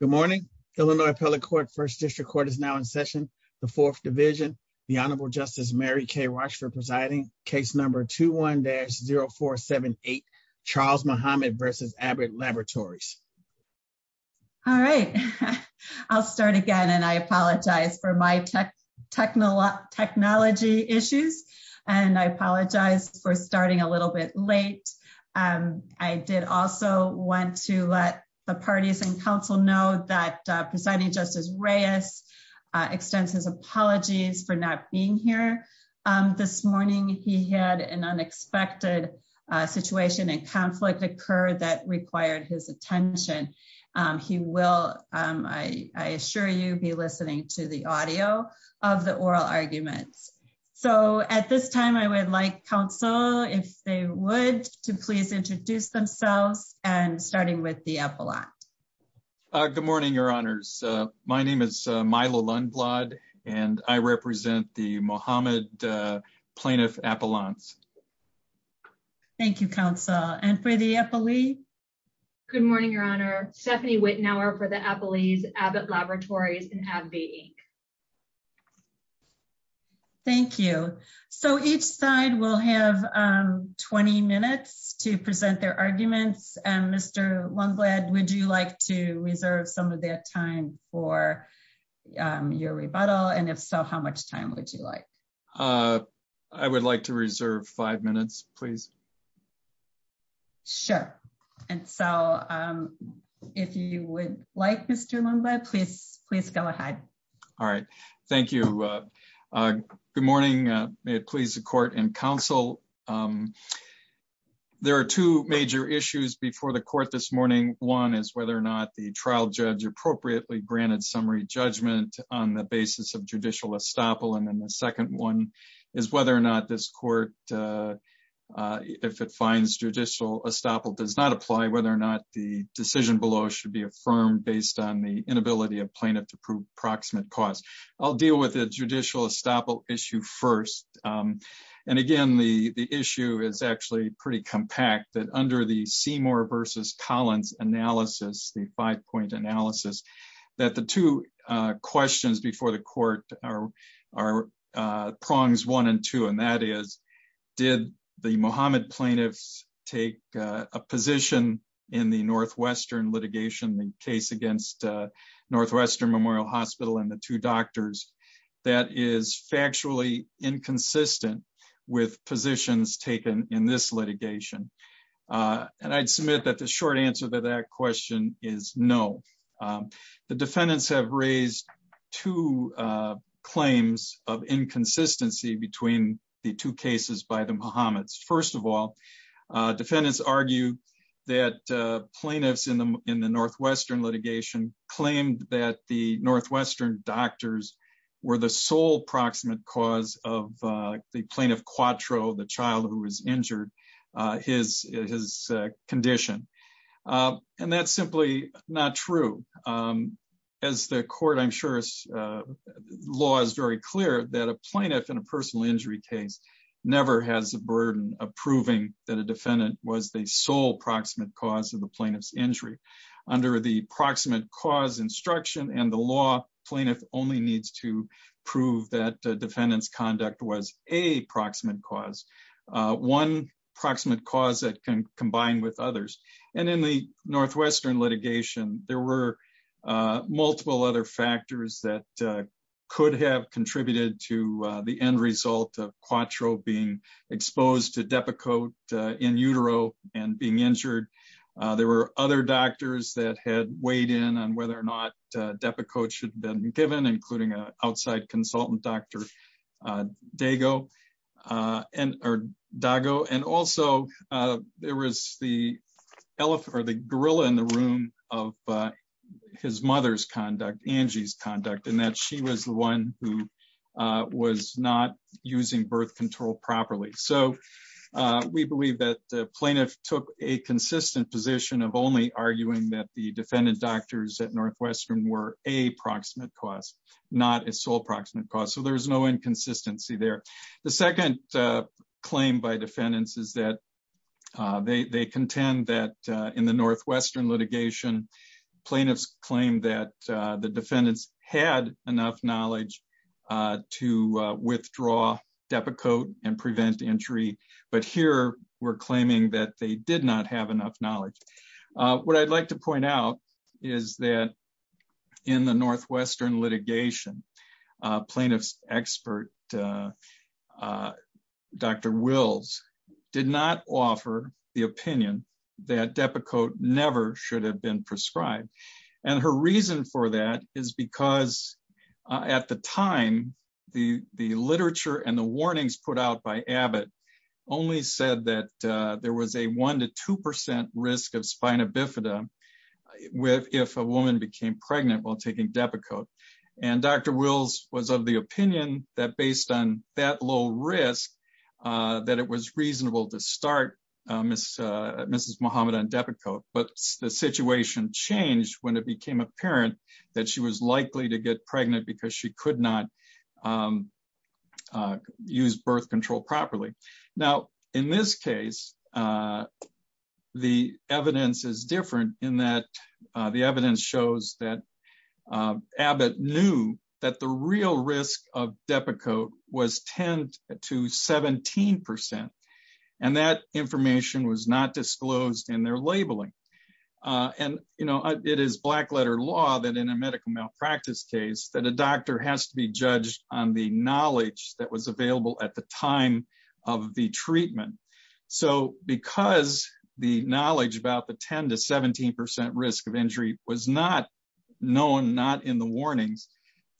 Good morning, Illinois Appellate Court, First District Court is now in session. The fourth division, the Honorable Justice Mary Kay Walsh for presiding case number 21-0478, Charles Muhammad versus Abbott Laboratories. All right, I'll start again. And I apologize for my tech technology technology issues. And I apologize for starting a little bit late. And I did also want to let the parties in know that presiding justice Reyes extends his apologies for not being here. This morning, he had an unexpected situation and conflict occurred that required his attention. He will, I assure you be listening to the audio of the oral arguments. So at this time, I would like counsel if they would to please introduce themselves and starting with the appellate. Good morning, Your Honors. My name is Milo Lundblad. And I represent the Muhammad plaintiff appellants. Thank you, counsel. And for the appellee. Good morning, Your Honor. Stephanie Wittenauer for the appellees Abbott Laboratories and AbbVie, Inc. Thank you. So each side will have 20 minutes to present their arguments. And Mr. Lundblad, would you like to reserve some of their time for your rebuttal? And if so, how much time would you like? I would like to reserve five minutes, please. Sure. And so if you would like Mr. Lundblad, please, please go ahead. All right. Thank you. Good morning. May it please the court and counsel. There are two major issues before the court this morning. One is whether or not the trial judge appropriately granted summary judgment on the basis of judicial estoppel. And then the second one is whether or not this court if it finds judicial estoppel does not apply whether or not the decision below should be affirmed based on the inability of plaintiff to prove proximate cause. I'll deal with the judicial estoppel issue first. And again, the issue is actually pretty compact that under the Seymour versus Collins analysis, the five point analysis, that the two questions before the court are prongs one and two, and that is, did the Mohammed plaintiffs take a position in the Northwestern litigation, the case against Northwestern Memorial Hospital and the two doctors that is factually inconsistent with positions taken in this litigation? And I'd submit that the short answer to that question is no. The defendants have raised two claims of inconsistency between the two cases by the Mohammed's first of all, defendants argue that plaintiffs in the in the Northwestern litigation claimed that the Northwestern doctors were the sole proximate cause of the plaintiff quattro the child who was injured his condition. And that's simply not true. As the court I'm sure as law is very clear that a plaintiff in a personal injury case never has the burden of proving that a defendant was the sole proximate cause of the plaintiff's injury under the proximate cause instruction and the law plaintiff only needs to prove that defendants conduct was a proximate cause, one proximate cause that can combine with others. And in the Northwestern litigation, there were multiple other factors that could have contributed to the end result of quattro being exposed to Depakote in utero and being injured. There were other doctors that had weighed in on whether or not Depakote should have been given including a outside consultant, Dr. Dago. And also, there was the elephant or the gorilla in the room of his mother's conduct, Angie's conduct and that she was the one who was not using birth control properly. So we believe that plaintiff took a consistent position of only arguing that the defendant doctors at Northwestern were a proximate cause, not a sole proximate cause. So there's no inconsistency there. The second claim by defendants is that they contend that in the Northwestern litigation, plaintiffs claim that the defendants had enough knowledge to withdraw Depakote and prevent entry. But here, we're claiming that they did not have enough knowledge. What I'd like to point out is that in the Northwestern litigation, plaintiffs expert Dr. Wills did not offer the opinion that Depakote never should have been prescribed. And her reason for that is because at the time, the the literature and the warnings put out by Abbott only said that there was a one to 2% risk of spina bifida with if a woman became pregnant while taking Depakote. And Dr. Wills was of the opinion that based on that low risk, that it was reasonable to start Mrs. Muhammad on Depakote. But the situation changed when it became apparent that she was likely to get pregnant because she could not use birth control properly. Now, in this case, the evidence is different in that the evidence shows that Abbott knew that the real risk of Depakote was 10 to 17%. And that information was not disclosed in their labeling. And, you know, it is black letter law that in a medical malpractice case that a doctor has to be judged on the knowledge that was available at the time of the treatment. So because the knowledge about the 10 to 17% risk of injury was not known, not in the warnings,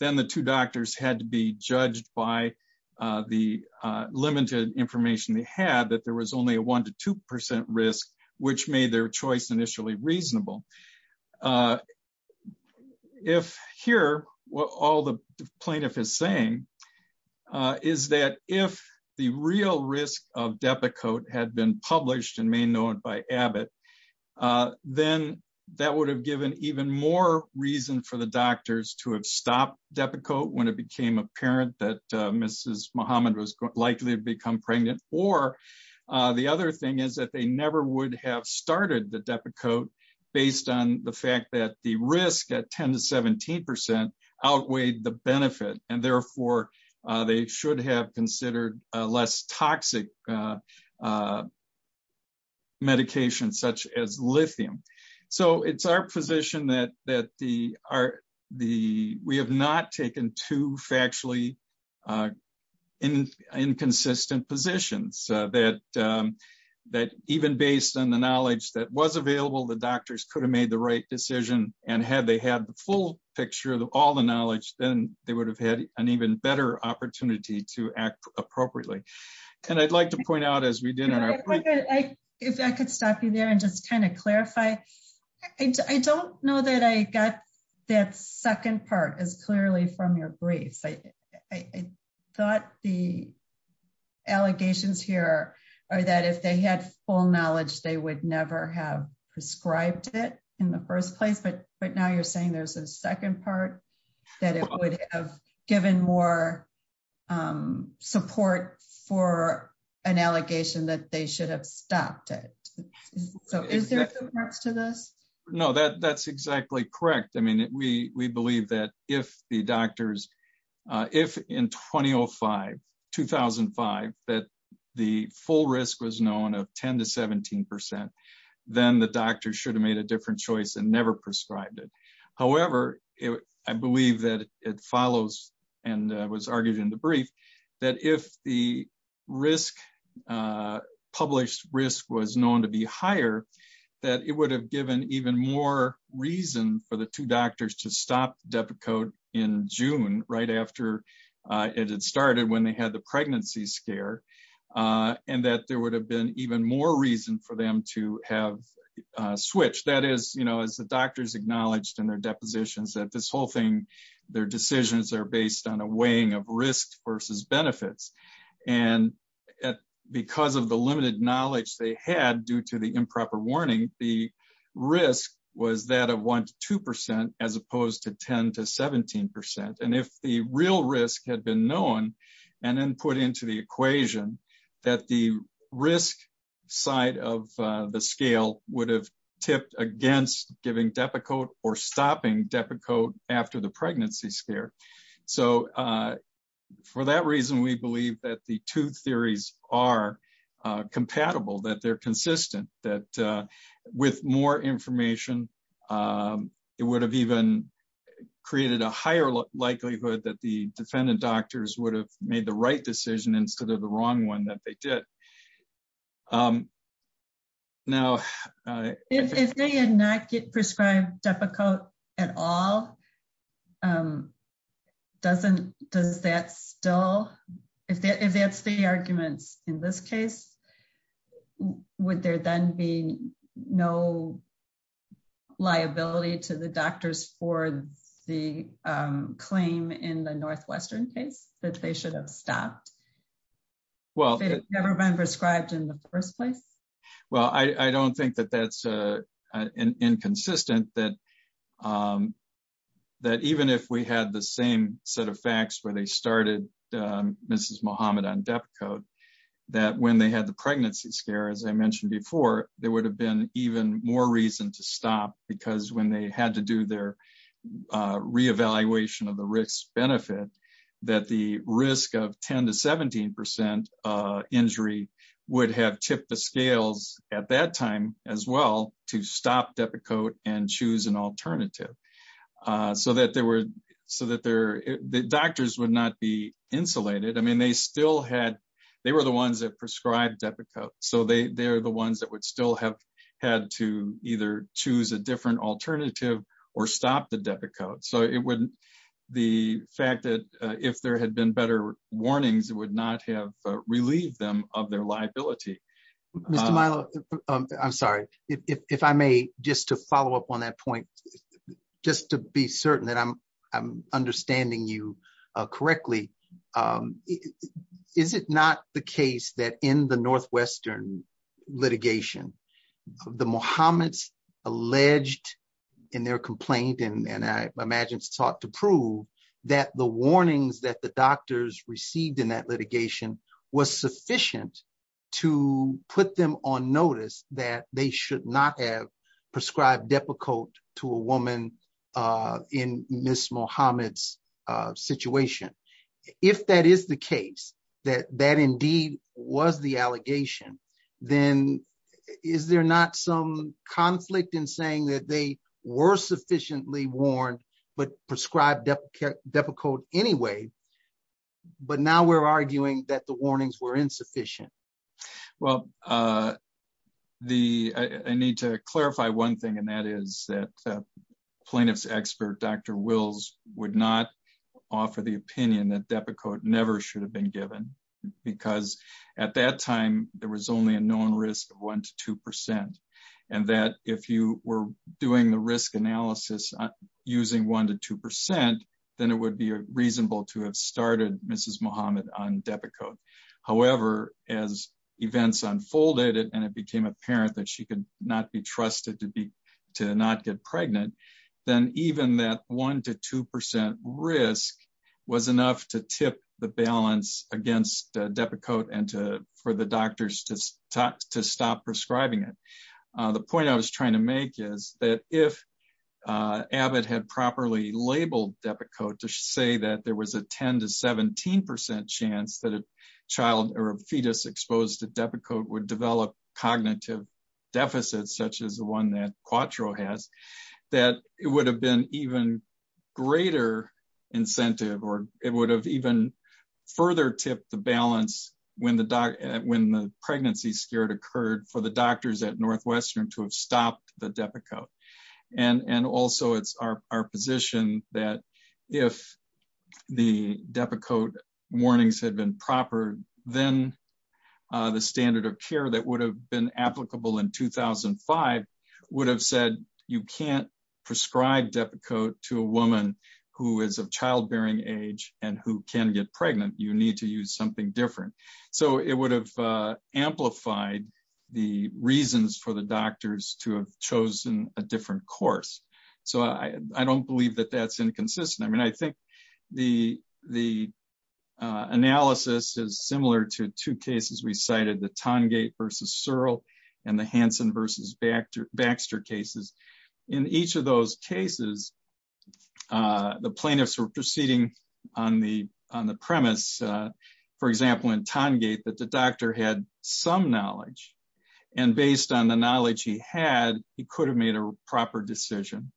then the two doctors had to be judged by the limited information they had that there was only a one to 2% risk, which made their choice initially reasonable. If here, what all the plaintiff is saying is that if the real risk of Depakote had been published and made known by Abbott, then that would have given even more reason for the doctors to have stopped Depakote when it became apparent that Mrs. Muhammad was likely to become pregnant. Or the other thing is that they never would have started the Depakote based on the fact that the risk at 10 to 17% outweighed the benefit and therefore, they should have considered less toxic medication such as lithium. So it's our position that we have not taken two factually inconsistent positions that even based on the knowledge that was available, the doctors could have made the right decision. And had they had the full picture of all the knowledge, then they would have had an even better opportunity to act appropriately. And I'd like to point out as we did if I could stop you there and just kind of clarify. I don't know that I got that second part is clearly from your briefs. I thought the allegations here are that if they had full knowledge, they would never have prescribed it in the first place. But But now you're saying there's a second part that it would have given more support for an allegation that they should have stopped it. So is there a reference to No, that that's exactly correct. I mean, we we believe that if the doctors if in 2005 2005, that the full risk was known of 10 to 17%, then the doctor should have made a different choice and never prescribed it. However, it I believe that it follows and was argued in the brief that if the risk published risk was known to be higher, that it would have given even more reason for the two doctors to stop Depakote in June right after it started when they had the pregnancy scare. And that there would have been even more reason for them to have switched that is, you know, as the doctors acknowledged in their depositions that this whole thing, their decisions are based on a weighing of risks versus benefits. And because of the limited knowledge they had due to the improper warning, the risk was that of one to 2%, as opposed to 10 to 17%. And if the real risk had been known, and then put into the equation, that the risk side of the scale would have tipped against giving Depakote or stopping Depakote after the pregnancy scare. So for that reason, we believe that the two theories are compatible, that they're consistent, that with more information, it would have even created a higher likelihood that the defendant doctors would have made the right decision instead of the wrong one that they did. Um, now, if they had not get prescribed Depakote at all, doesn't does that still, if that's the arguments in this case, would there then be no liability to the doctors for the claim in the Northwestern case that they should have stopped? Well, never been prescribed in the first place? Well, I don't think that that's an inconsistent that, that even if we had the same set of facts where they started, Mrs. Mohammed on Depakote, that when they had the pregnancy scare, as I mentioned before, there would have been even more reason to stop because when they had to do their reevaluation of the risk benefit, that the risk of 10 to 17% injury would have tipped the scales at that time as well to stop Depakote and choose an alternative. So that they were so that their doctors would not be insulated. I mean, they still had, they were the ones that prescribed Depakote. So they they're the ones that would still have had to either choose a different alternative, or stop the Depakote. So it wouldn't, the fact that if there had been better warnings, it would not have relieved them of their liability. Mr. Milo, I'm sorry, if I may, just to follow up on that point, just to be certain that I'm, I'm understanding you correctly. Is it not the case that in the Northwestern litigation, the Mohammed's alleged in their complaint, and I imagine it's sought to prove that the warnings that the doctors received in that litigation was sufficient to put them on notice that they should not have prescribed Depakote to a woman in Miss Mohammed's situation. If that is the case, that that was the allegation, then is there not some conflict in saying that they were sufficiently warned, but prescribed Depakote anyway. But now we're arguing that the warnings were insufficient. Well, the I need to clarify one thing. And that is that plaintiffs expert Dr. Wills would not offer the opinion that Depakote never should have been given. Because at that time, there was only a known risk of one to 2%. And that if you were doing the risk analysis, using one to 2%, then it would be reasonable to have started Mrs. Mohammed on Depakote. However, as events unfolded, and it became apparent that she could not be trusted to be to not get pregnant, then even that one to 2% risk was enough to tip the balance against Depakote and to for the doctors to talk to stop prescribing it. The point I was trying to make is that if Abbott had properly labeled Depakote to say that there was a 10 to 17% chance that a child or a fetus exposed to Depakote would develop cognitive deficits such as the one that Quatro has, that it would have been even greater incentive or it would have even further tipped the balance when the doc when the pregnancy scared occurred for the doctors at Northwestern to have stopped the Depakote. And and also it's our position that if the Depakote warnings had been proper, then the standard of care that would have been applicable in 2005 would have said you can't prescribe Depakote to a woman who is of childbearing age and who can get pregnant, you need to use something different. So it would have amplified the reasons for the doctors to have chosen a different course. So I don't believe that that's inconsistent. I mean, I think the the analysis is similar to two cases, we cited the Tongate versus Searle and the Hansen versus Baxter Baxter cases. In each of those cases, the plaintiffs were proceeding on the on the premise, for example, in Tongate, that the doctor had some knowledge. And based on the knowledge he had, he could have made a proper decision.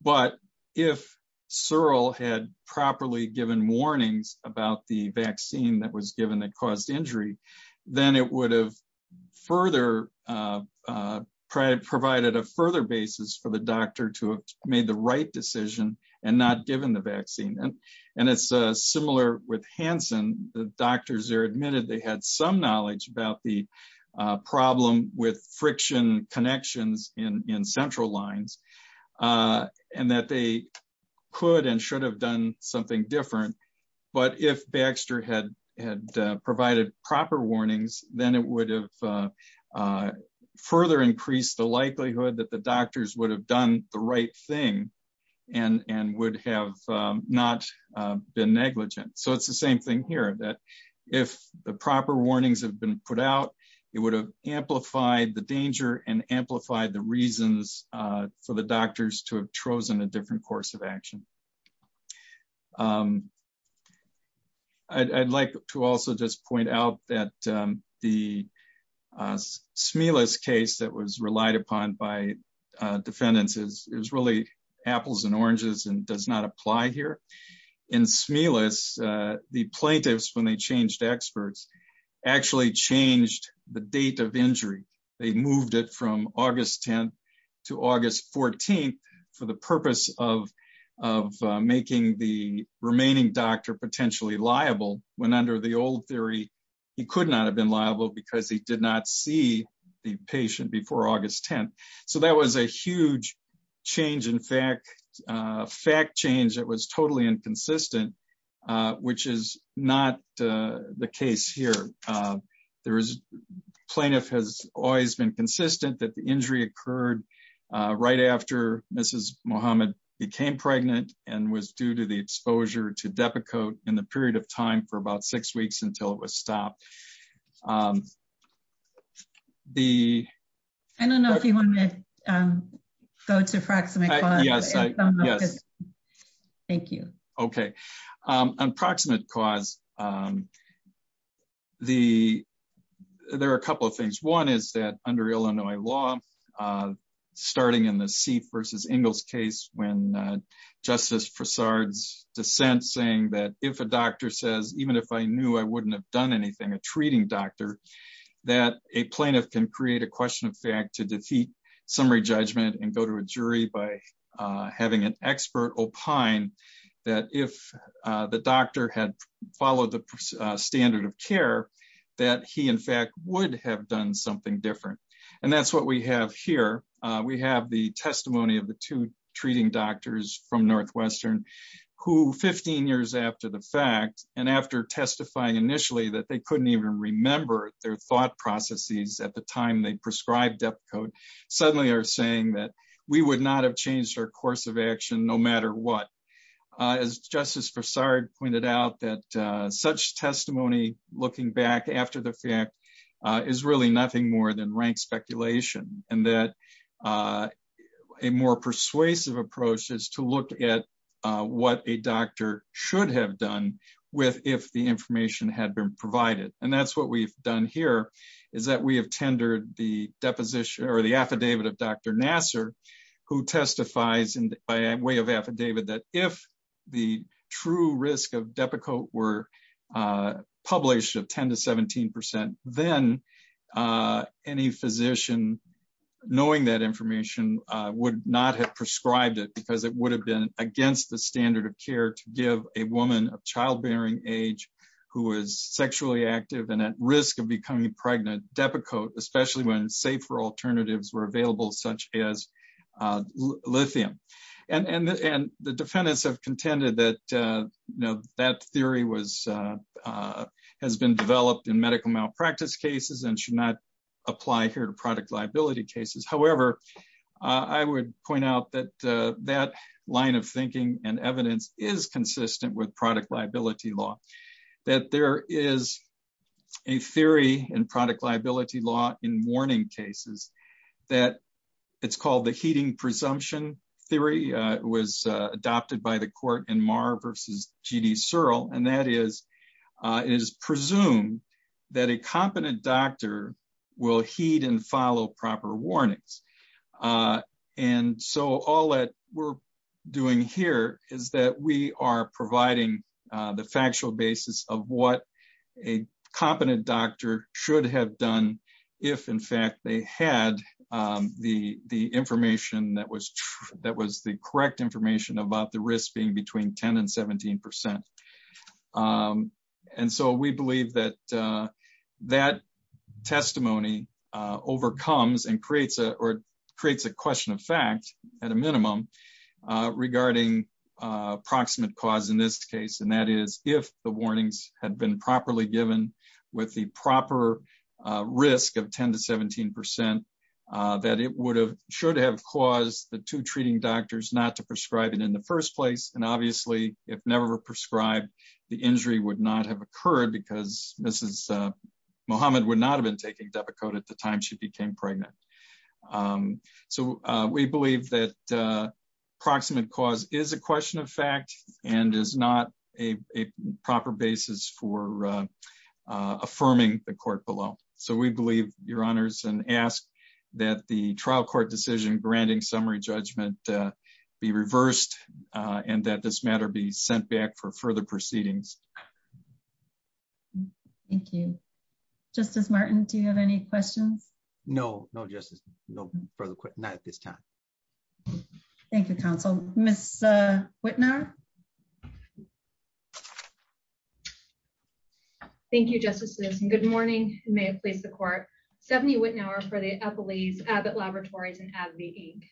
But if Searle had properly given warnings about the vaccine that was given that caused injury, then it would have further provided a further basis for the doctor to have made the right decision and not given the vaccine. And, and it's similar with Hansen, the doctors are admitted, they had some knowledge about the problem with friction connections in central lines. And that they could and should have done something different. But if Baxter had had provided proper warnings, then it would have further increased the likelihood that the doctors would have done the right thing, and and would have not been negligent. So it's the same thing here that if the proper warnings have been put out, it would have amplified the danger and amplified the reasons for the doctors to have chosen a different vaccine. I'd like to also just point out that the Smelis case that was relied upon by defendants is really apples and oranges and does not apply here. In Smelis, the plaintiffs when they changed experts, actually changed the date of injury, they moved it from August 10, to August 14, for the remaining doctor potentially liable, when under the old theory, he could not have been liable because he did not see the patient before August 10. So that was a huge change. In fact, fact change that was totally inconsistent, which is not the case here. There is plaintiff has always been consistent that the injury occurred right after Mrs. Mohammed became pregnant and was due to the exposure to Depakote in the period of time for about six weeks until it was stopped. The I don't know if you want to go to proximity. Yes. Thank you. Okay. Unproximate cause. The there are a couple of things. One is that under Illinois law, starting in the Seif versus Ingalls case, when Justice Prasad's dissent saying that if a doctor says even if I knew I wouldn't have done anything, a treating doctor, that a plaintiff can create a question of fact to defeat summary judgment and go to a jury by having an expert opine that if the doctor had followed the standard of care, that he in fact would have done something different. And that's what we have here. We have the testimony of the two treating doctors from Northwestern, who 15 years after the fact, and after testifying initially that they couldn't even remember their thought processes at the time they prescribed Depakote, suddenly are saying that we would not have changed our course of action no matter what. As Justice Prasad pointed out that such testimony, looking back after the fact, is really nothing more than rank speculation. And that a more persuasive approach is to look at what a doctor should have done with if the information had been provided. And that's what we've done here is that we have tendered the deposition or the affidavit of Dr. Nasser, who testifies in by way of affidavit that if the true risk of knowing that information would not have prescribed it because it would have been against the standard of care to give a woman of childbearing age, who is sexually active and at risk of becoming pregnant Depakote, especially when safer alternatives were available, such as lithium. And the defendants have contended that, you know, that theory has been developed in medical malpractice cases and should not apply here product liability cases. However, I would point out that that line of thinking and evidence is consistent with product liability law, that there is a theory in product liability law in warning cases, that it's called the heating presumption theory was adopted by the court in Mar versus GD Searle. And that is, is presumed that a competent doctor will heed and follow proper warnings. And so all that we're doing here is that we are providing the factual basis of what a competent doctor should have done, if in fact they had the the information that was that was the correct information about the risk being between 10 and 17%. And so we believe that that testimony overcomes and creates or creates a question of fact, at a minimum, regarding approximate cause in this case, and that is if the warnings had been properly given with the proper risk of 10 to 17%, that it would have should have caused the two treating doctors not to prescribe it in the first place. And obviously, if never prescribed, the injury would not have occurred because Mrs. Muhammad would not have been taking Depakote at the time she became pregnant. So we believe that proximate cause is a question of fact, and is not a proper basis for affirming the court below. So we believe your honors and ask that the trial court decision granting summary judgment be reversed, and that this matter be sent back for review. Thank you. Justice Martin, do you have any questions? No, no, just no further quip. Not at this time. Thank you, counsel. Miss Whitner. Thank you, Justice Lewis. And good morning, may it please the court. Stephanie Wittenour for the Eppley's Abbott Laboratories and AbbVie, Inc.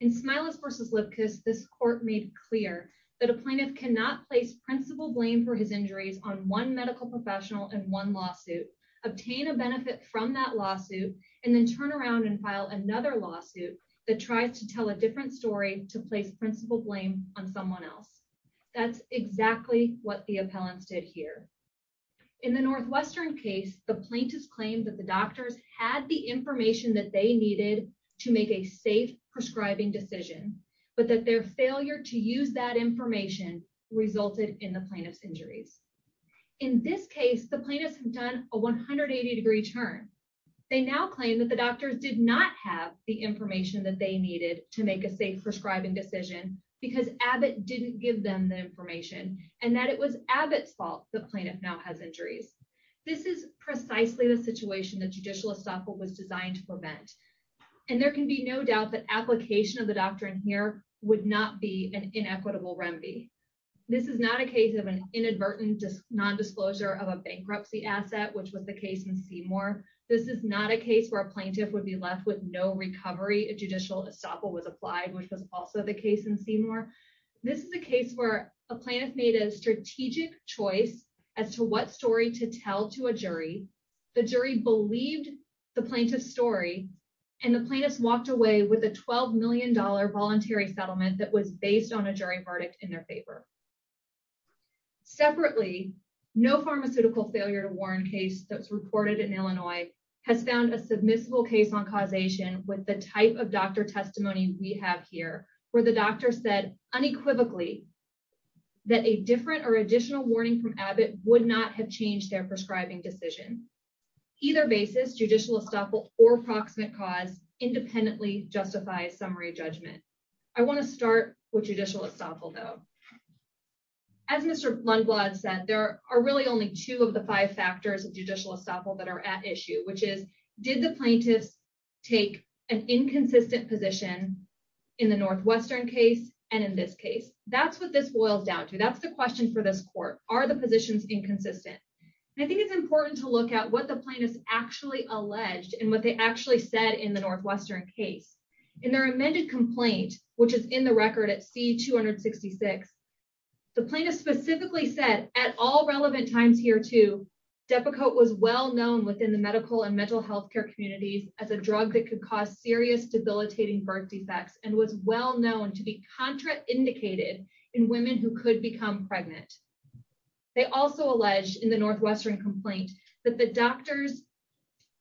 In Smiles versus Lipkus, this court made clear that a plaintiff cannot place principal blame for his injuries on one medical professional and one lawsuit, obtain a benefit from that lawsuit, and then turn around and file another lawsuit that tries to tell a different story to place principal blame on someone else. That's exactly what the appellants did here. In the Northwestern case, the plaintiff's claim that the doctors had the information that they needed to make a safe prescribing decision, but that their failure to use that information resulted in the injuries. In this case, the plaintiffs have done a 180 degree turn. They now claim that the doctors did not have the information that they needed to make a safe prescribing decision, because Abbott didn't give them the information and that it was Abbott's fault the plaintiff now has injuries. This is precisely the situation that judicial estoppel was designed to prevent. And there can be no doubt that application of the doctrine here would not be an inequitable remedy. This is not a case of an inadvertent non-disclosure of a bankruptcy asset, which was the case in Seymour. This is not a case where a plaintiff would be left with no recovery if judicial estoppel was applied, which was also the case in Seymour. This is a case where a plaintiff made a strategic choice as to what story to tell to a jury. The jury believed the plaintiff's story, and the plaintiffs walked away with a $12 million voluntary settlement that was based on a jury verdict in their favor. Separately, no pharmaceutical failure to warn case that's reported in Illinois has found a submissible case on causation with the type of doctor testimony we have here, where the doctor said unequivocally that a different or additional warning from Abbott would not have changed their prescribing decision. Either basis, judicial estoppel or proximate cause independently justifies summary judgment. I want to start with as Mr. Lundblad said, there are really only two of the five factors of judicial estoppel that are at issue, which is, did the plaintiffs take an inconsistent position in the Northwestern case? And in this case, that's what this boils down to. That's the question for this court, are the positions inconsistent? I think it's important to look at what the plaintiffs actually alleged and what they actually said in the Northwestern case, in their amended complaint, which is in the record at C-266. The plaintiff specifically said at all relevant times here too, Depakote was well known within the medical and mental health care communities as a drug that could cause serious debilitating birth defects and was well known to be contraindicated in women who could become pregnant. They also alleged in the Northwestern complaint that the doctors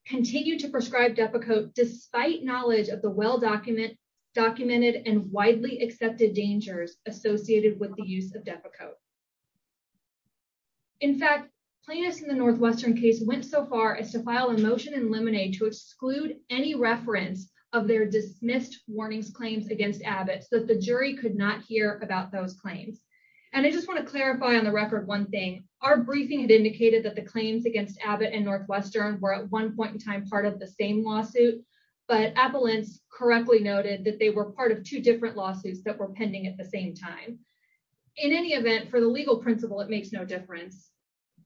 continue to prescribe Depakote despite knowledge of the well documented and widely accepted dangers associated with the use of Depakote. In fact, plaintiffs in the Northwestern case went so far as to file a motion in Lemonade to exclude any reference of their dismissed warnings claims against Abbott so that the jury could not hear about those claims. And I just want to clarify on the record one thing, our briefing had indicated that the claims against Abbott and Northwestern were at one point in time part of the same lawsuit, but Appellants correctly noted that they were part of two different lawsuits that were pending at the same time. In any event, for the legal principle, it makes no difference.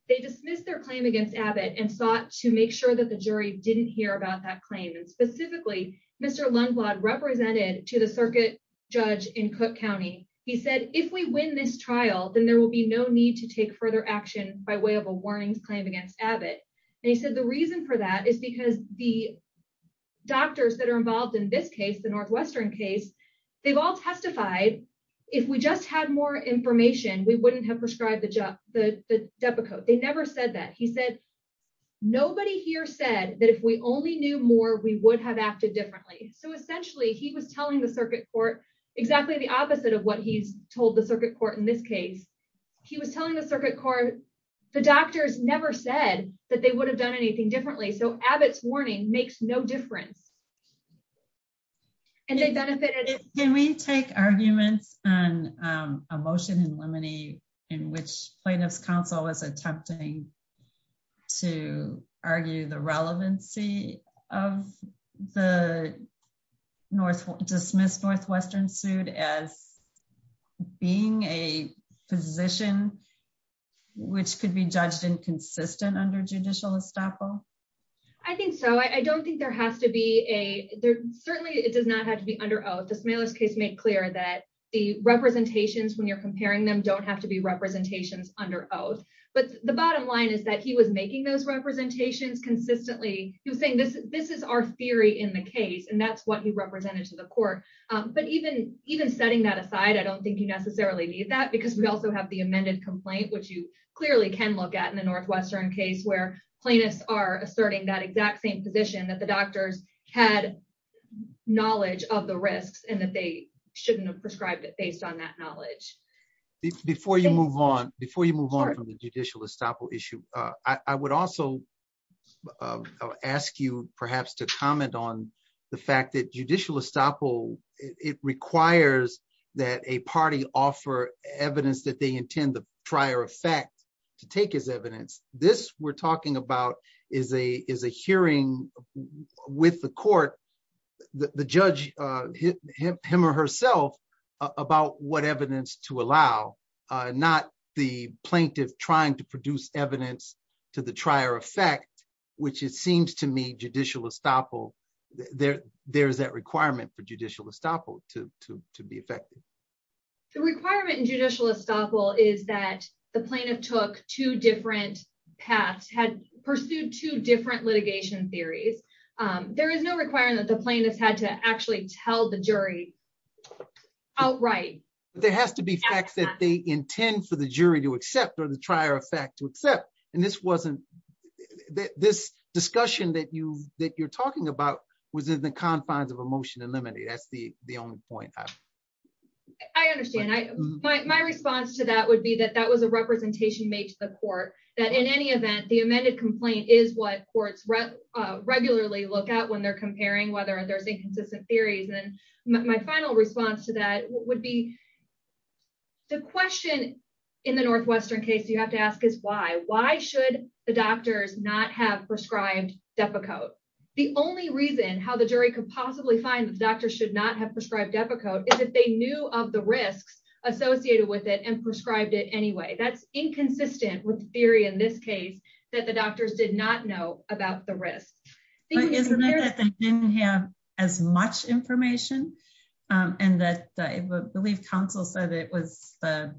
They dismissed their claim against Abbott and sought to make sure that the jury didn't hear about that claim. And specifically, Mr. Lundblad represented to the circuit judge in Cook County, he said, if we win this trial, then there will be no need to take further action by way of a warnings claim against Abbott. And he said, the reason for that is because the doctors that are involved in this case, the Northwestern case, they've all testified, if we just had more information, we wouldn't have prescribed the Depakote. They never said that. He said, nobody here said that if we only knew more, we would have acted differently. So essentially, he was telling the circuit court exactly the opposite of what he's told the circuit court in this case. He was telling the circuit court, the doctors never said that they would have done anything differently. So Abbott's warning makes no difference. And they benefited, can we take arguments on a motion in Lemony, in which plaintiffs counsel was attempting to argue the relevancy of the North dismissed Northwestern sued as being a position, which could be judged inconsistent under judicial estoppel? I think so. I don't think there has to be a there. Certainly, it does not have to be under oath. The smallest case made clear that the representations when you're comparing them don't have to be representations under oath. But the bottom line is that he was making those representations consistently, he was saying this, this is our theory in the case. And that's what he represented to the court. But even even setting that aside, I don't think you necessarily need that because we also have the amended complaint, which you clearly can look at in the Northwestern case where plaintiffs are asserting that exact same position that the doctors had knowledge of the risks and that they shouldn't have prescribed it based on that knowledge. Before you move on, before you move on from the judicial estoppel issue, I would also ask you perhaps to comment on the fact that judicial estoppel, it requires that a party offer evidence that they intend the prior effect to take as evidence. This we're talking about is a is a hearing with the court, the judge, him or herself, about what evidence to allow, not the plaintiff trying to produce evidence to the trier effect, which it seems to me judicial estoppel there, there's that requirement for judicial estoppel to be effective. The requirement in judicial estoppel is that the plaintiff took two different paths had pursued two different litigation theories. There is no requirement that the plaintiff had to actually tell the jury. Oh, right. There has to be facts that they intend for the jury to accept or the trier effect to accept. And this wasn't this discussion that you that you're talking about was in the confines of a motion and limited. That's the the only point. I understand. I, my response to that would be that that was a representation made to the court that in any event, the amended complaint is what courts regularly look at when they're comparing whether there's inconsistent theories. And my final response to that would be the question. In the Northwestern case, you have to ask is why? Why should the doctors not have prescribed Depakote? The only reason how the jury could possibly find that the doctor should not have prescribed Depakote is if they knew of the risks associated with it and prescribed it anyway, that's inconsistent with the theory in this case, that the doctors did not know about the risks. They didn't have as much information. And that I believe counsel said it was the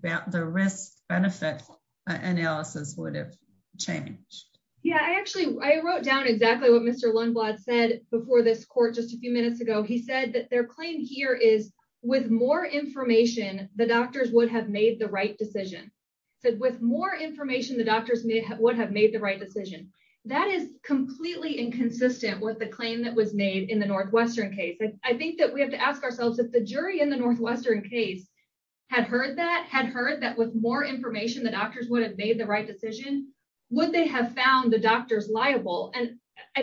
risk benefit analysis would have changed. Yeah, I actually I wrote down exactly what Mr. Lundblad said before this court just a few minutes ago, he said that their claim here is with more information, the doctors would have made the right decision. So with more information, the doctors may have would have made the right decision. That is completely inconsistent with the claim that was made in the Northwestern case. I think that we have to ask ourselves if the jury in the Northwestern case, had heard that had heard that with more information, the doctors would have made the right decision, would they have found the doctors liable and I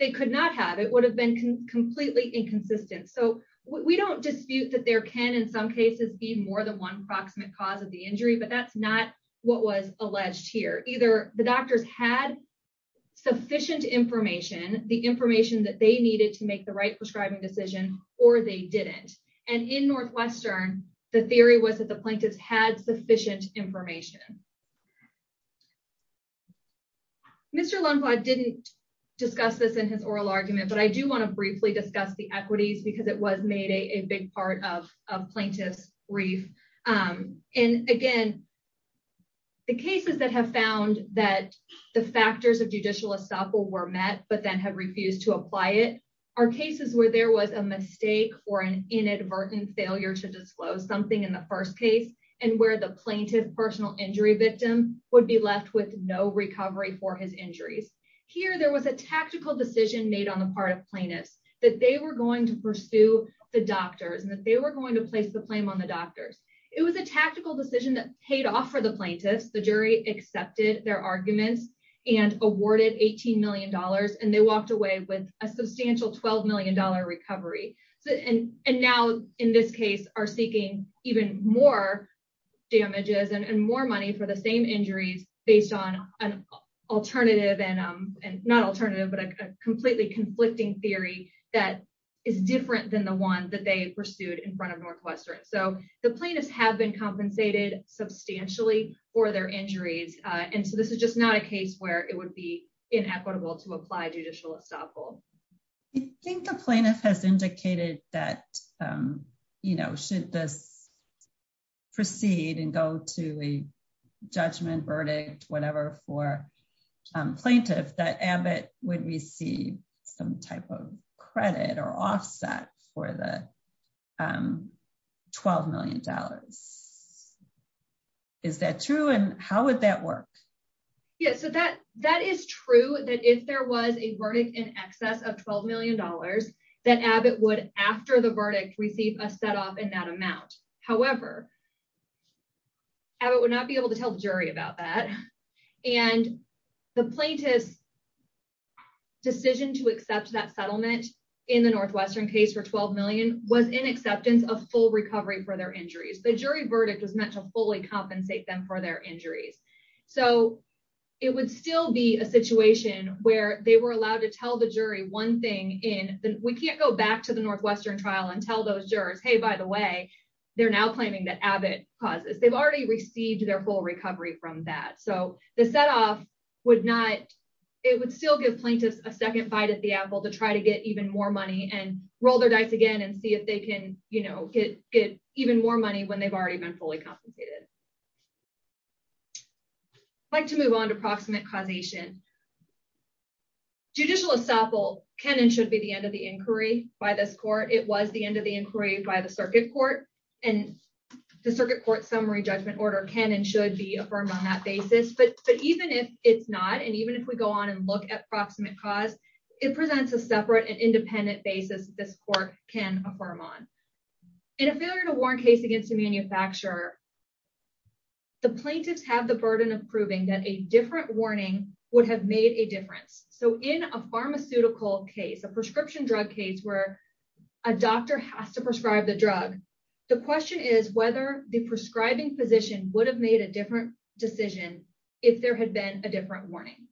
they could not have it would have been completely inconsistent. So we don't dispute that there can in some cases be more than one proximate cause of the injury. But that's not what was alleged here. Either the doctors had sufficient information, the information that they needed to make the right prescribing decision, or they didn't. And in Northwestern, the theory was that the plaintiffs had sufficient information. Mr. Lundquist didn't discuss this in his oral argument, but I do want to briefly discuss the equities because it was made a big part of plaintiffs brief. And again, the cases that have found that the factors of judicial estoppel were met, but then have refused to apply it are cases where there was a mistake or an inadvertent failure to disclose something in the first case, and where the plaintiff personal injury victim would be left with no recovery for his injuries. Here, there was a tactical decision made on the part of plaintiffs that they were going to pursue the doctors and that they were going to place the blame on the doctors. It was a tactical decision that paid off for the plaintiffs, the jury accepted their arguments, and awarded $18 million and they walked away with a substantial $12 million recovery. So and and now in this case are seeking even more damages and more money for the same injuries based on an alternative and not alternative, but a completely conflicting theory that is different than the one that they pursued in front of Northwestern. So the plaintiffs have been compensated substantially for their injuries. And so this is just not a case where it would be inequitable to apply judicial estoppel. I think the plaintiff has indicated that, you know, should this proceed and go to a judgment verdict, whatever for plaintiff that Abbott would receive some type of credit or offset for the $12 million. Is that true? And how would that work? Yeah, so that that is true that if there was a verdict in excess of $12 million, that Abbott would after the verdict receive a set off in that amount. However, Abbott would not be able to tell the jury about that. And the plaintiff's decision to accept that settlement in the Northwestern case for 12 million was in acceptance of full recovery for their injuries. The jury verdict was meant to fully compensate them for their injuries. So it would still be a situation where they were allowed to tell the jury one thing in the we can't go back to the Northwestern trial and tell those jurors, hey, by the way, they're now claiming that Abbott causes they've already received their full recovery from that. So the set off would not, it would still give plaintiffs a second bite at the apple to try to get even more money and roll their dice again and see if they can, you know, get get even more money when they've already been fully compensated. I'd like to move on to proximate causation. Judicial estoppel can and should be the end of the inquiry by this court, it was the end of the inquiry by the circuit court, and the circuit court summary judgment order can and should be affirmed on that basis. But even if it's not, and even if we go on and look at proximate cause, it presents a separate and independent basis this court can affirm on. In a warrant case against a manufacturer, the plaintiffs have the burden of proving that a different warning would have made a difference. So in a pharmaceutical case, a prescription drug case where a doctor has to prescribe the drug, the question is whether the prescribing physician would have made a different decision, if there had been a different warning.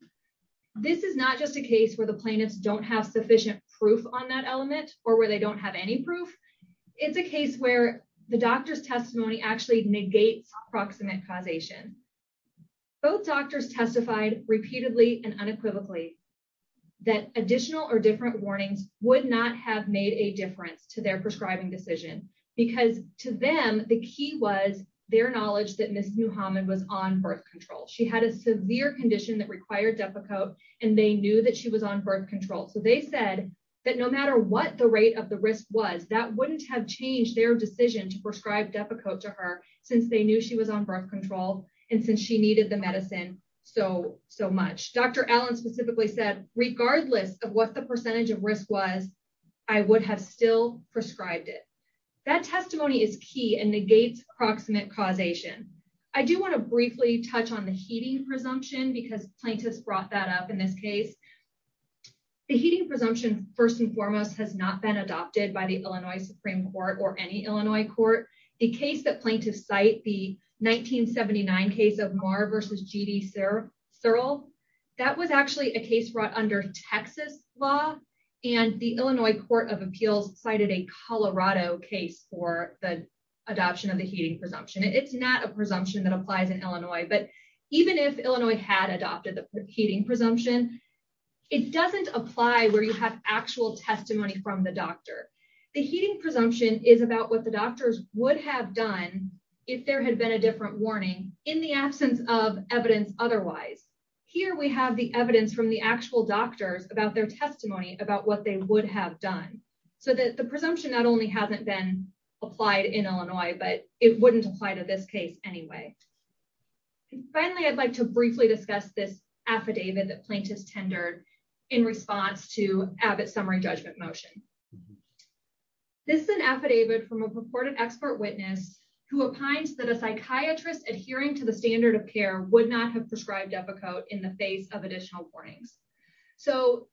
This is not just a case where the plaintiffs don't have sufficient proof on that element, or where they don't have any proof. It's a case where the doctor's testimony actually negates proximate causation. Both doctors testified repeatedly and unequivocally, that additional or different warnings would not have made a difference to their prescribing decision. Because to them, the key was their knowledge that Miss Muhammad was on birth control, she had a severe condition that required Depakote, and they knew that she was on birth control. So they said that no matter what the rate of the risk was, that wouldn't have changed their decision to prescribe Depakote to her, since they knew she was on birth control. And since she needed the medicine, so, so much. Dr. Allen specifically said, regardless of what the percentage of risk was, I would have still prescribed it. That testimony is key and negates proximate causation. I do want to briefly touch on the heating presumption because plaintiffs brought that up in this case. The heating presumption, first and foremost, has not been adopted by the Illinois Supreme Court or any Illinois court. The case that plaintiffs cite the 1979 case of Marr versus G.D. Searle, that was actually a case brought under Texas law. And the Illinois Court of Appeals cited a Colorado case for the adoption of the heating presumption. It's not a presumption that applies in Illinois. But even if Illinois had adopted the heating presumption, it doesn't apply where you have actual testimony from the doctor. The heating presumption is about what the doctors would have done if there had been a different warning in the absence of evidence otherwise. Here we have the evidence from the actual doctors about their testimony about what they would have done. So that the presumption not only hasn't been applied in Illinois, but it wouldn't apply to this case anyway. Finally, I'd like to briefly discuss this affidavit that plaintiffs tendered in response to Abbott summary judgment motion. This is an affidavit from a purported expert witness who opines that a psychiatrist adhering to the standard of care would not have prescribed epicote in the face of additional warnings. So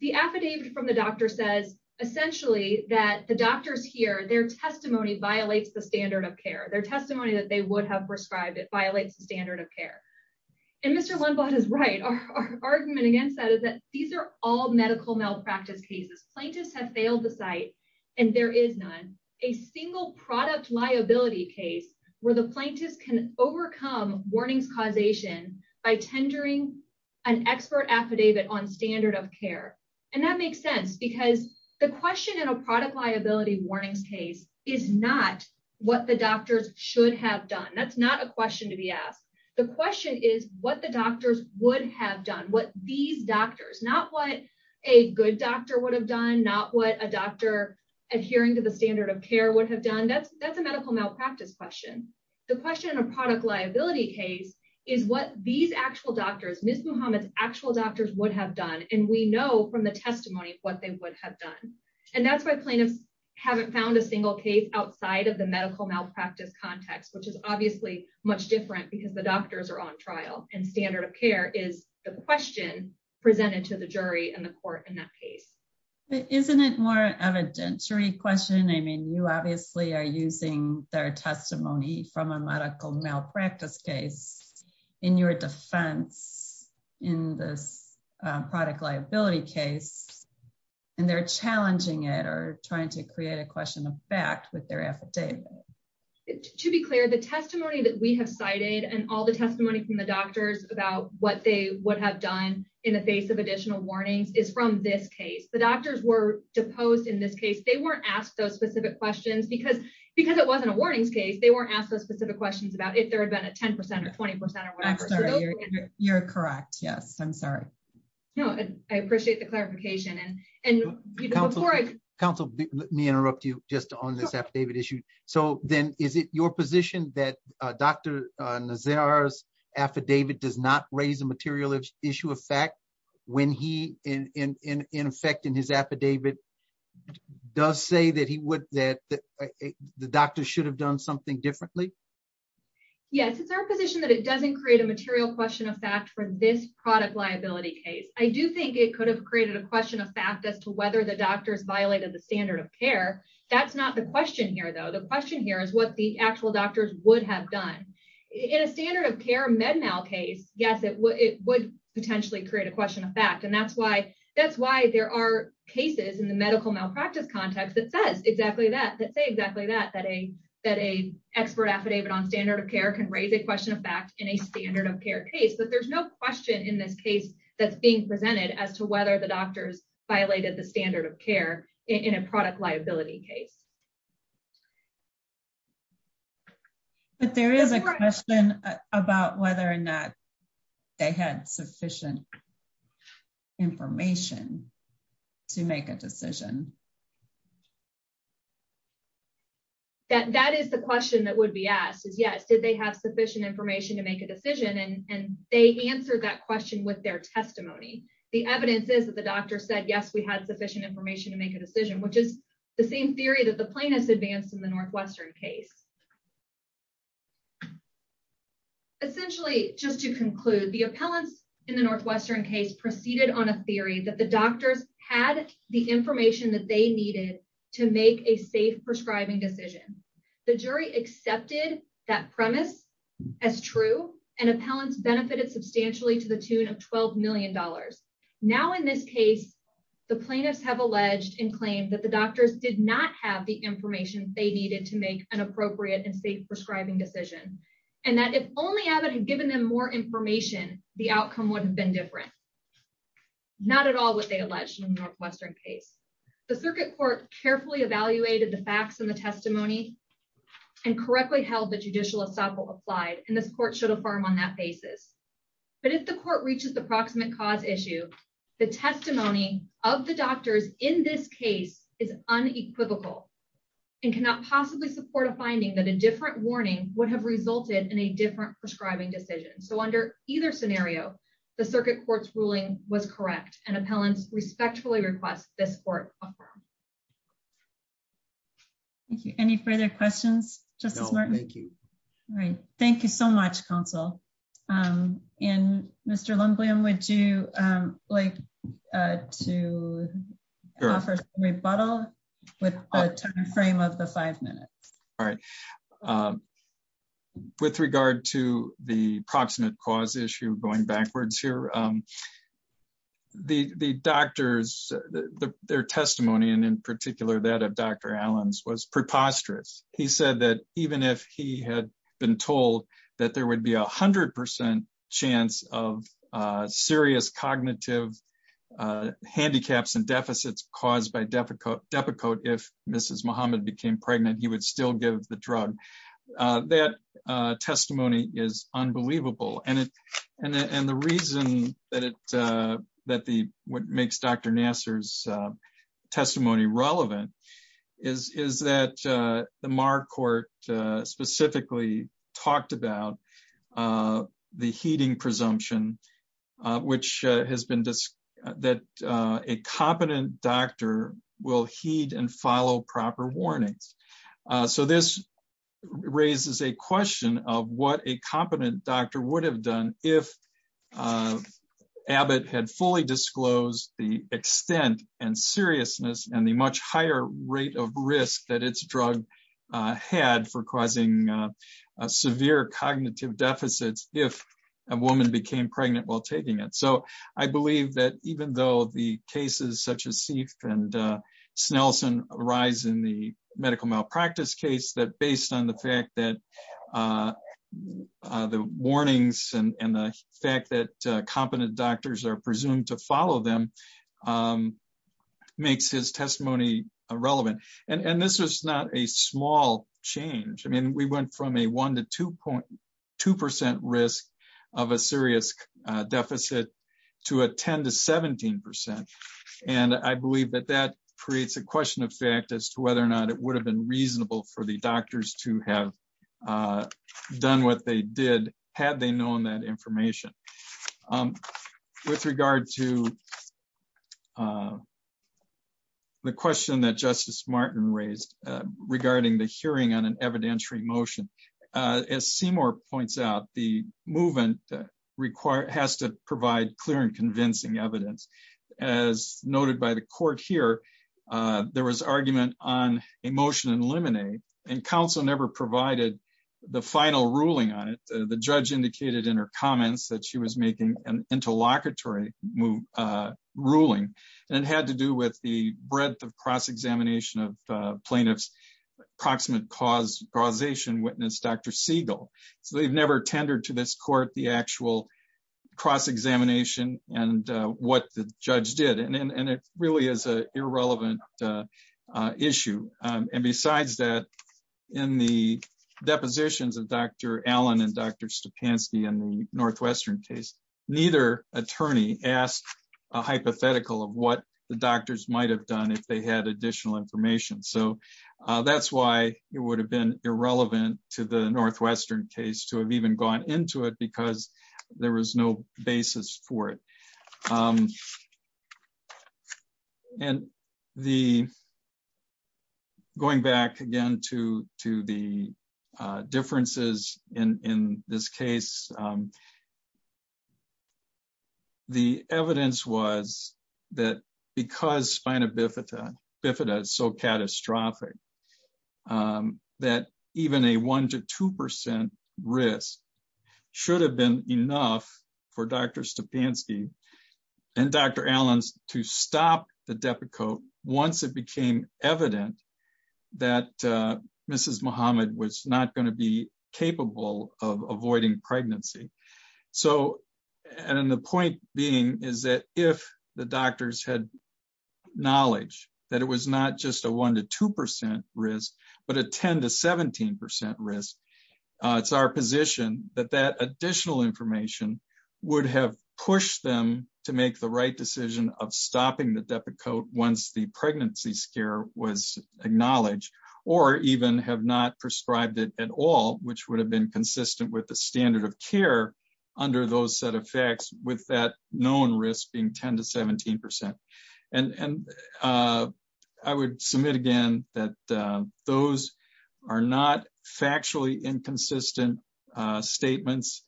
the affidavit from the doctor says, essentially, that the doctors here their testimony violates the standard of care, their testimony that they would have prescribed it violates the standard of care. And Mr. Lundblad is right. Our argument against that is that these are all medical malpractice cases, plaintiffs have failed the site. And there is not a single product liability case where the plaintiffs can overcome warnings causation by tendering an expert affidavit on standard of care. And that makes sense. Because the question in a product liability warnings case is not what the doctors should have done. That's not a question to be asked. The question is what the doctors would have done what these doctors not what a good doctor would have done not what a doctor adhering to the standard of care would have done. That's that's a medical malpractice question. The question in a product liability case is what these actual doctors Miss Muhammad's actual doctors would have done. And we know from the testimony of what they would have done. And that's why plaintiffs haven't found a single case outside of the medical malpractice context, which is obviously much different because the doctors are on trial and standard of care is the question presented to the jury and the court in that case. But isn't it more evidentiary question? I mean, you obviously are using their testimony from a medical malpractice case in your defense in this product liability case. And they're challenging it or trying to create a question of fact with their affidavit. To be clear, the testimony that we have cited and all the testimony from the doctors about what they would have done in the face of additional warnings is from this case, the doctors were deposed in this case, they weren't asked those specific questions, because, because it wasn't a warnings case, they weren't asked those specific questions about if there had been a 10% or 20%. You're correct. Yes, I'm sorry. No, I appreciate the clarification. And, and Council, let me interrupt you just on this affidavit issue. So then is it your position that Dr. Nazar's affidavit does not raise a material issue of fact, when he in effect in his affidavit does say that he would that the doctor should have done something differently? Yes, it's our position that it doesn't create a material question of fact for this product liability case, I do think it could have created a question of fact as to whether the doctors violated the standard of care. That's not the question here is what the actual doctors would have done in a standard of care med mal case. Yes, it would it would potentially create a question of fact. And that's why that's why there are cases in the medical malpractice context that says exactly that that say exactly that, that a that a expert affidavit on standard of care can raise a question of fact in a standard of care case, but there's no question in this case that's being presented as to whether the doctors violated the standard of care in a product liability case. But there is a question about whether or not they had sufficient information to make a decision. That is the question that would be asked is yes, did they have sufficient information to make a decision and they answered that question with their testimony. The evidence is that the doctor said yes, we had sufficient information to make a decision which is the same theory that the plaintiffs advanced in the Northwestern case. Essentially, just to conclude the appellants in the Northwestern case proceeded on a theory that the doctors had the information that they needed to make a safe prescribing decision. The jury accepted that premise as true and appellants benefited substantially to the tune of $12 million. Now in this case, the plaintiffs have alleged and claimed that the to make an appropriate and safe prescribing decision, and that if only Abbott had given them more information, the outcome wouldn't have been different. Not at all what they alleged in the Northwestern case, the circuit court carefully evaluated the facts and the testimony and correctly held the judicial assemble applied and this court should affirm on that basis. But if the court reaches the proximate cause issue, the testimony of the doctors in this case is unequivocal, and cannot possibly support a finding that a different warning would have resulted in a different prescribing decision. So under either scenario, the circuit court's ruling was correct and appellants respectfully request this court. Thank you. Any further questions? Justice Martin? Thank you. All right. Thank you so much, counsel. And Mr. Lumbliam, would you like to offer a rebuttal with the timeframe of the five minutes? All right. With regard to the proximate cause issue going backwards here, the doctors, their testimony, and in particular, that of Dr. Allen's was preposterous. He said that even if he had been told that there would be 100% chance of serious cognitive handicaps and deficits caused by Depakote, if Mrs. Muhammad became pregnant, he would still give the drug. That testimony is unbelievable. And the reason that what makes Dr. Nassar's testimony relevant is that the Marr court specifically talked about the heeding presumption, which has been that a competent doctor will heed and follow proper warnings. So this raises a question of what a competent doctor would have done if Abbott had fully disclosed the extent and seriousness and the much higher rate of risk that it's drug had for causing severe cognitive deficits if a woman became pregnant while taking it. So I believe that even though the cases such as Seif and Snelson arise in the medical malpractice case, that based on the fact that the warnings and the fact that competent doctors are presumed to follow them makes his testimony relevant. And this is not a small change. I mean, we went from a one to 2.2% risk of a serious deficit to a 10 to 17%. And I believe that that creates a question of fact as to whether or not it would have been reasonable for the doctors to have done what they did, had they known that the question that Justice Martin raised regarding the hearing on an evidentiary motion, as Seymour points out, the movement has to provide clear and convincing evidence. As noted by the court here, there was argument on a motion in limine and counsel never provided the final ruling on it. The judge indicated in her comments that she was making an It had to do with the breadth of cross examination of plaintiffs proximate cause causation witness Dr. Siegel. So they've never tendered to this court the actual cross examination and what the judge did and it really is a irrelevant issue. And besides that, in the depositions of Dr. Allen and Dr. Stepanski in the Northwestern case, neither attorney asked a what the doctors might have done if they had additional information. So that's why it would have been irrelevant to the Northwestern case to have even gone into it because there was no basis for it. And the going back again to to the because spina bifida bifida is so catastrophic. That even a one to 2% risk should have been enough for Dr. Stepanski and Dr. Allen's to stop the Depakote once it became evident that Mrs. Muhammad was not going to be capable of avoiding knowledge that it was not just a one to 2% risk, but a 10 to 17% risk. It's our position that that additional information would have pushed them to make the right decision of stopping the Depakote once the pregnancy scare was acknowledged, or even have not prescribed it at all, which would have been consistent with the standard of care under those set of facts with that risk being 10 to 17%. And I would submit again, that those are not factually inconsistent statements,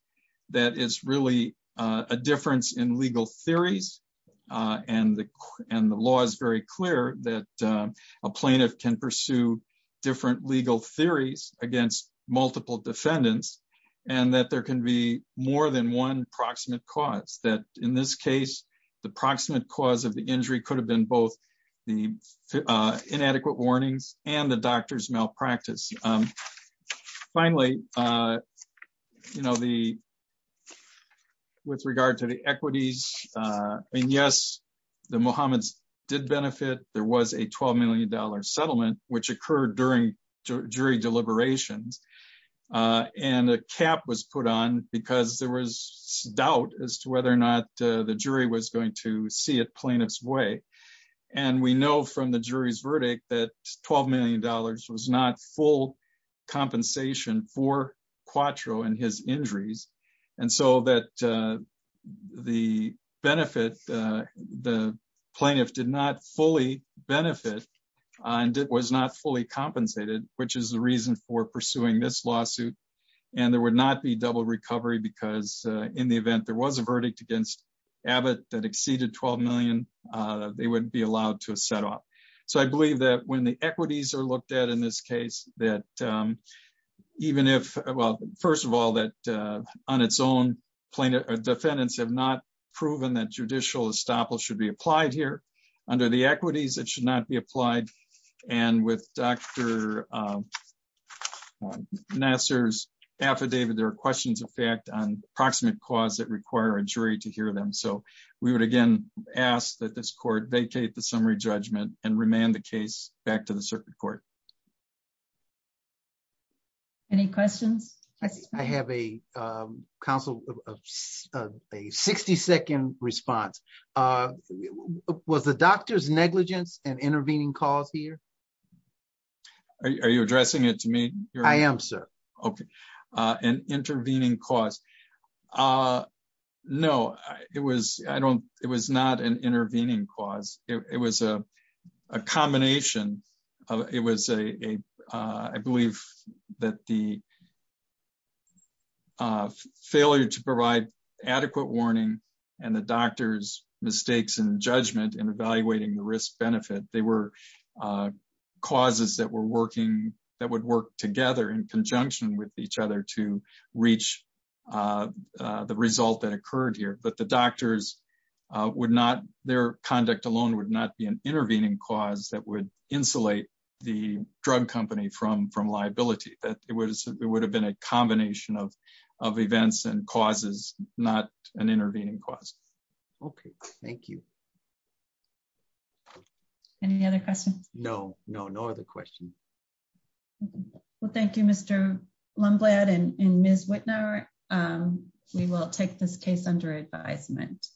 that is really a difference in legal theories. And the and the law is very clear that a plaintiff can pursue different legal theories against multiple defendants, and that there can be more than one proximate cause that in this case, the proximate cause of the injury could have been both the inadequate warnings and the doctor's malpractice. Finally, you know, the with regard to the equities, and yes, the Mohammed's did benefit, there was a $12 million settlement, which occurred during jury deliberations. And a cap was put on because there was doubt as to whether or not the jury was going to see it plaintiff's way. And we know from the jury's verdict that $12 million was not full compensation for Quatro and his injuries. And so that the benefit, the plaintiff did not fully benefit, and it was not fully compensated, which is the reason for pursuing this lawsuit. And there would not be double recovery, because in the event there was a verdict against Abbott that exceeded 12 million, they wouldn't be allowed to set off. So I believe that when the equities are looked at in this case, that even if well, first of all, that on its own plaintiff or defendants have not proven that judicial estoppel should be applied here, under the equities, it should not be applied. And then, as Dr. Nassar's affidavit, there are questions of fact on approximate cause that require a jury to hear them. So we would again, ask that this court vacate the summary judgment and remand the case back to the circuit court. Any questions? I have a counsel of a 60 second response. Was the doctor's negligence an intervening cause here? Are you addressing it to me? I am, sir. Okay. An intervening cause. No, it was, I don't, it was not an intervening cause. It was a combination of it was a, I believe that the failure to provide adequate warning, and the doctor's mistakes and judgment in evaluating the risk benefit, they were causes that were working, that would work together in conjunction with each other to reach the result that occurred here, but the doctors would not, their conduct alone would not be an intervening cause that would insulate the drug company from from liability that it was, it would have been a combination of, of events and causes, not an intervening cause. Okay, thank you. Any other questions? No, no, no other questions. Well, thank you, Mr. Lomblad and Ms. Wittenauer. We will take this case under advisement.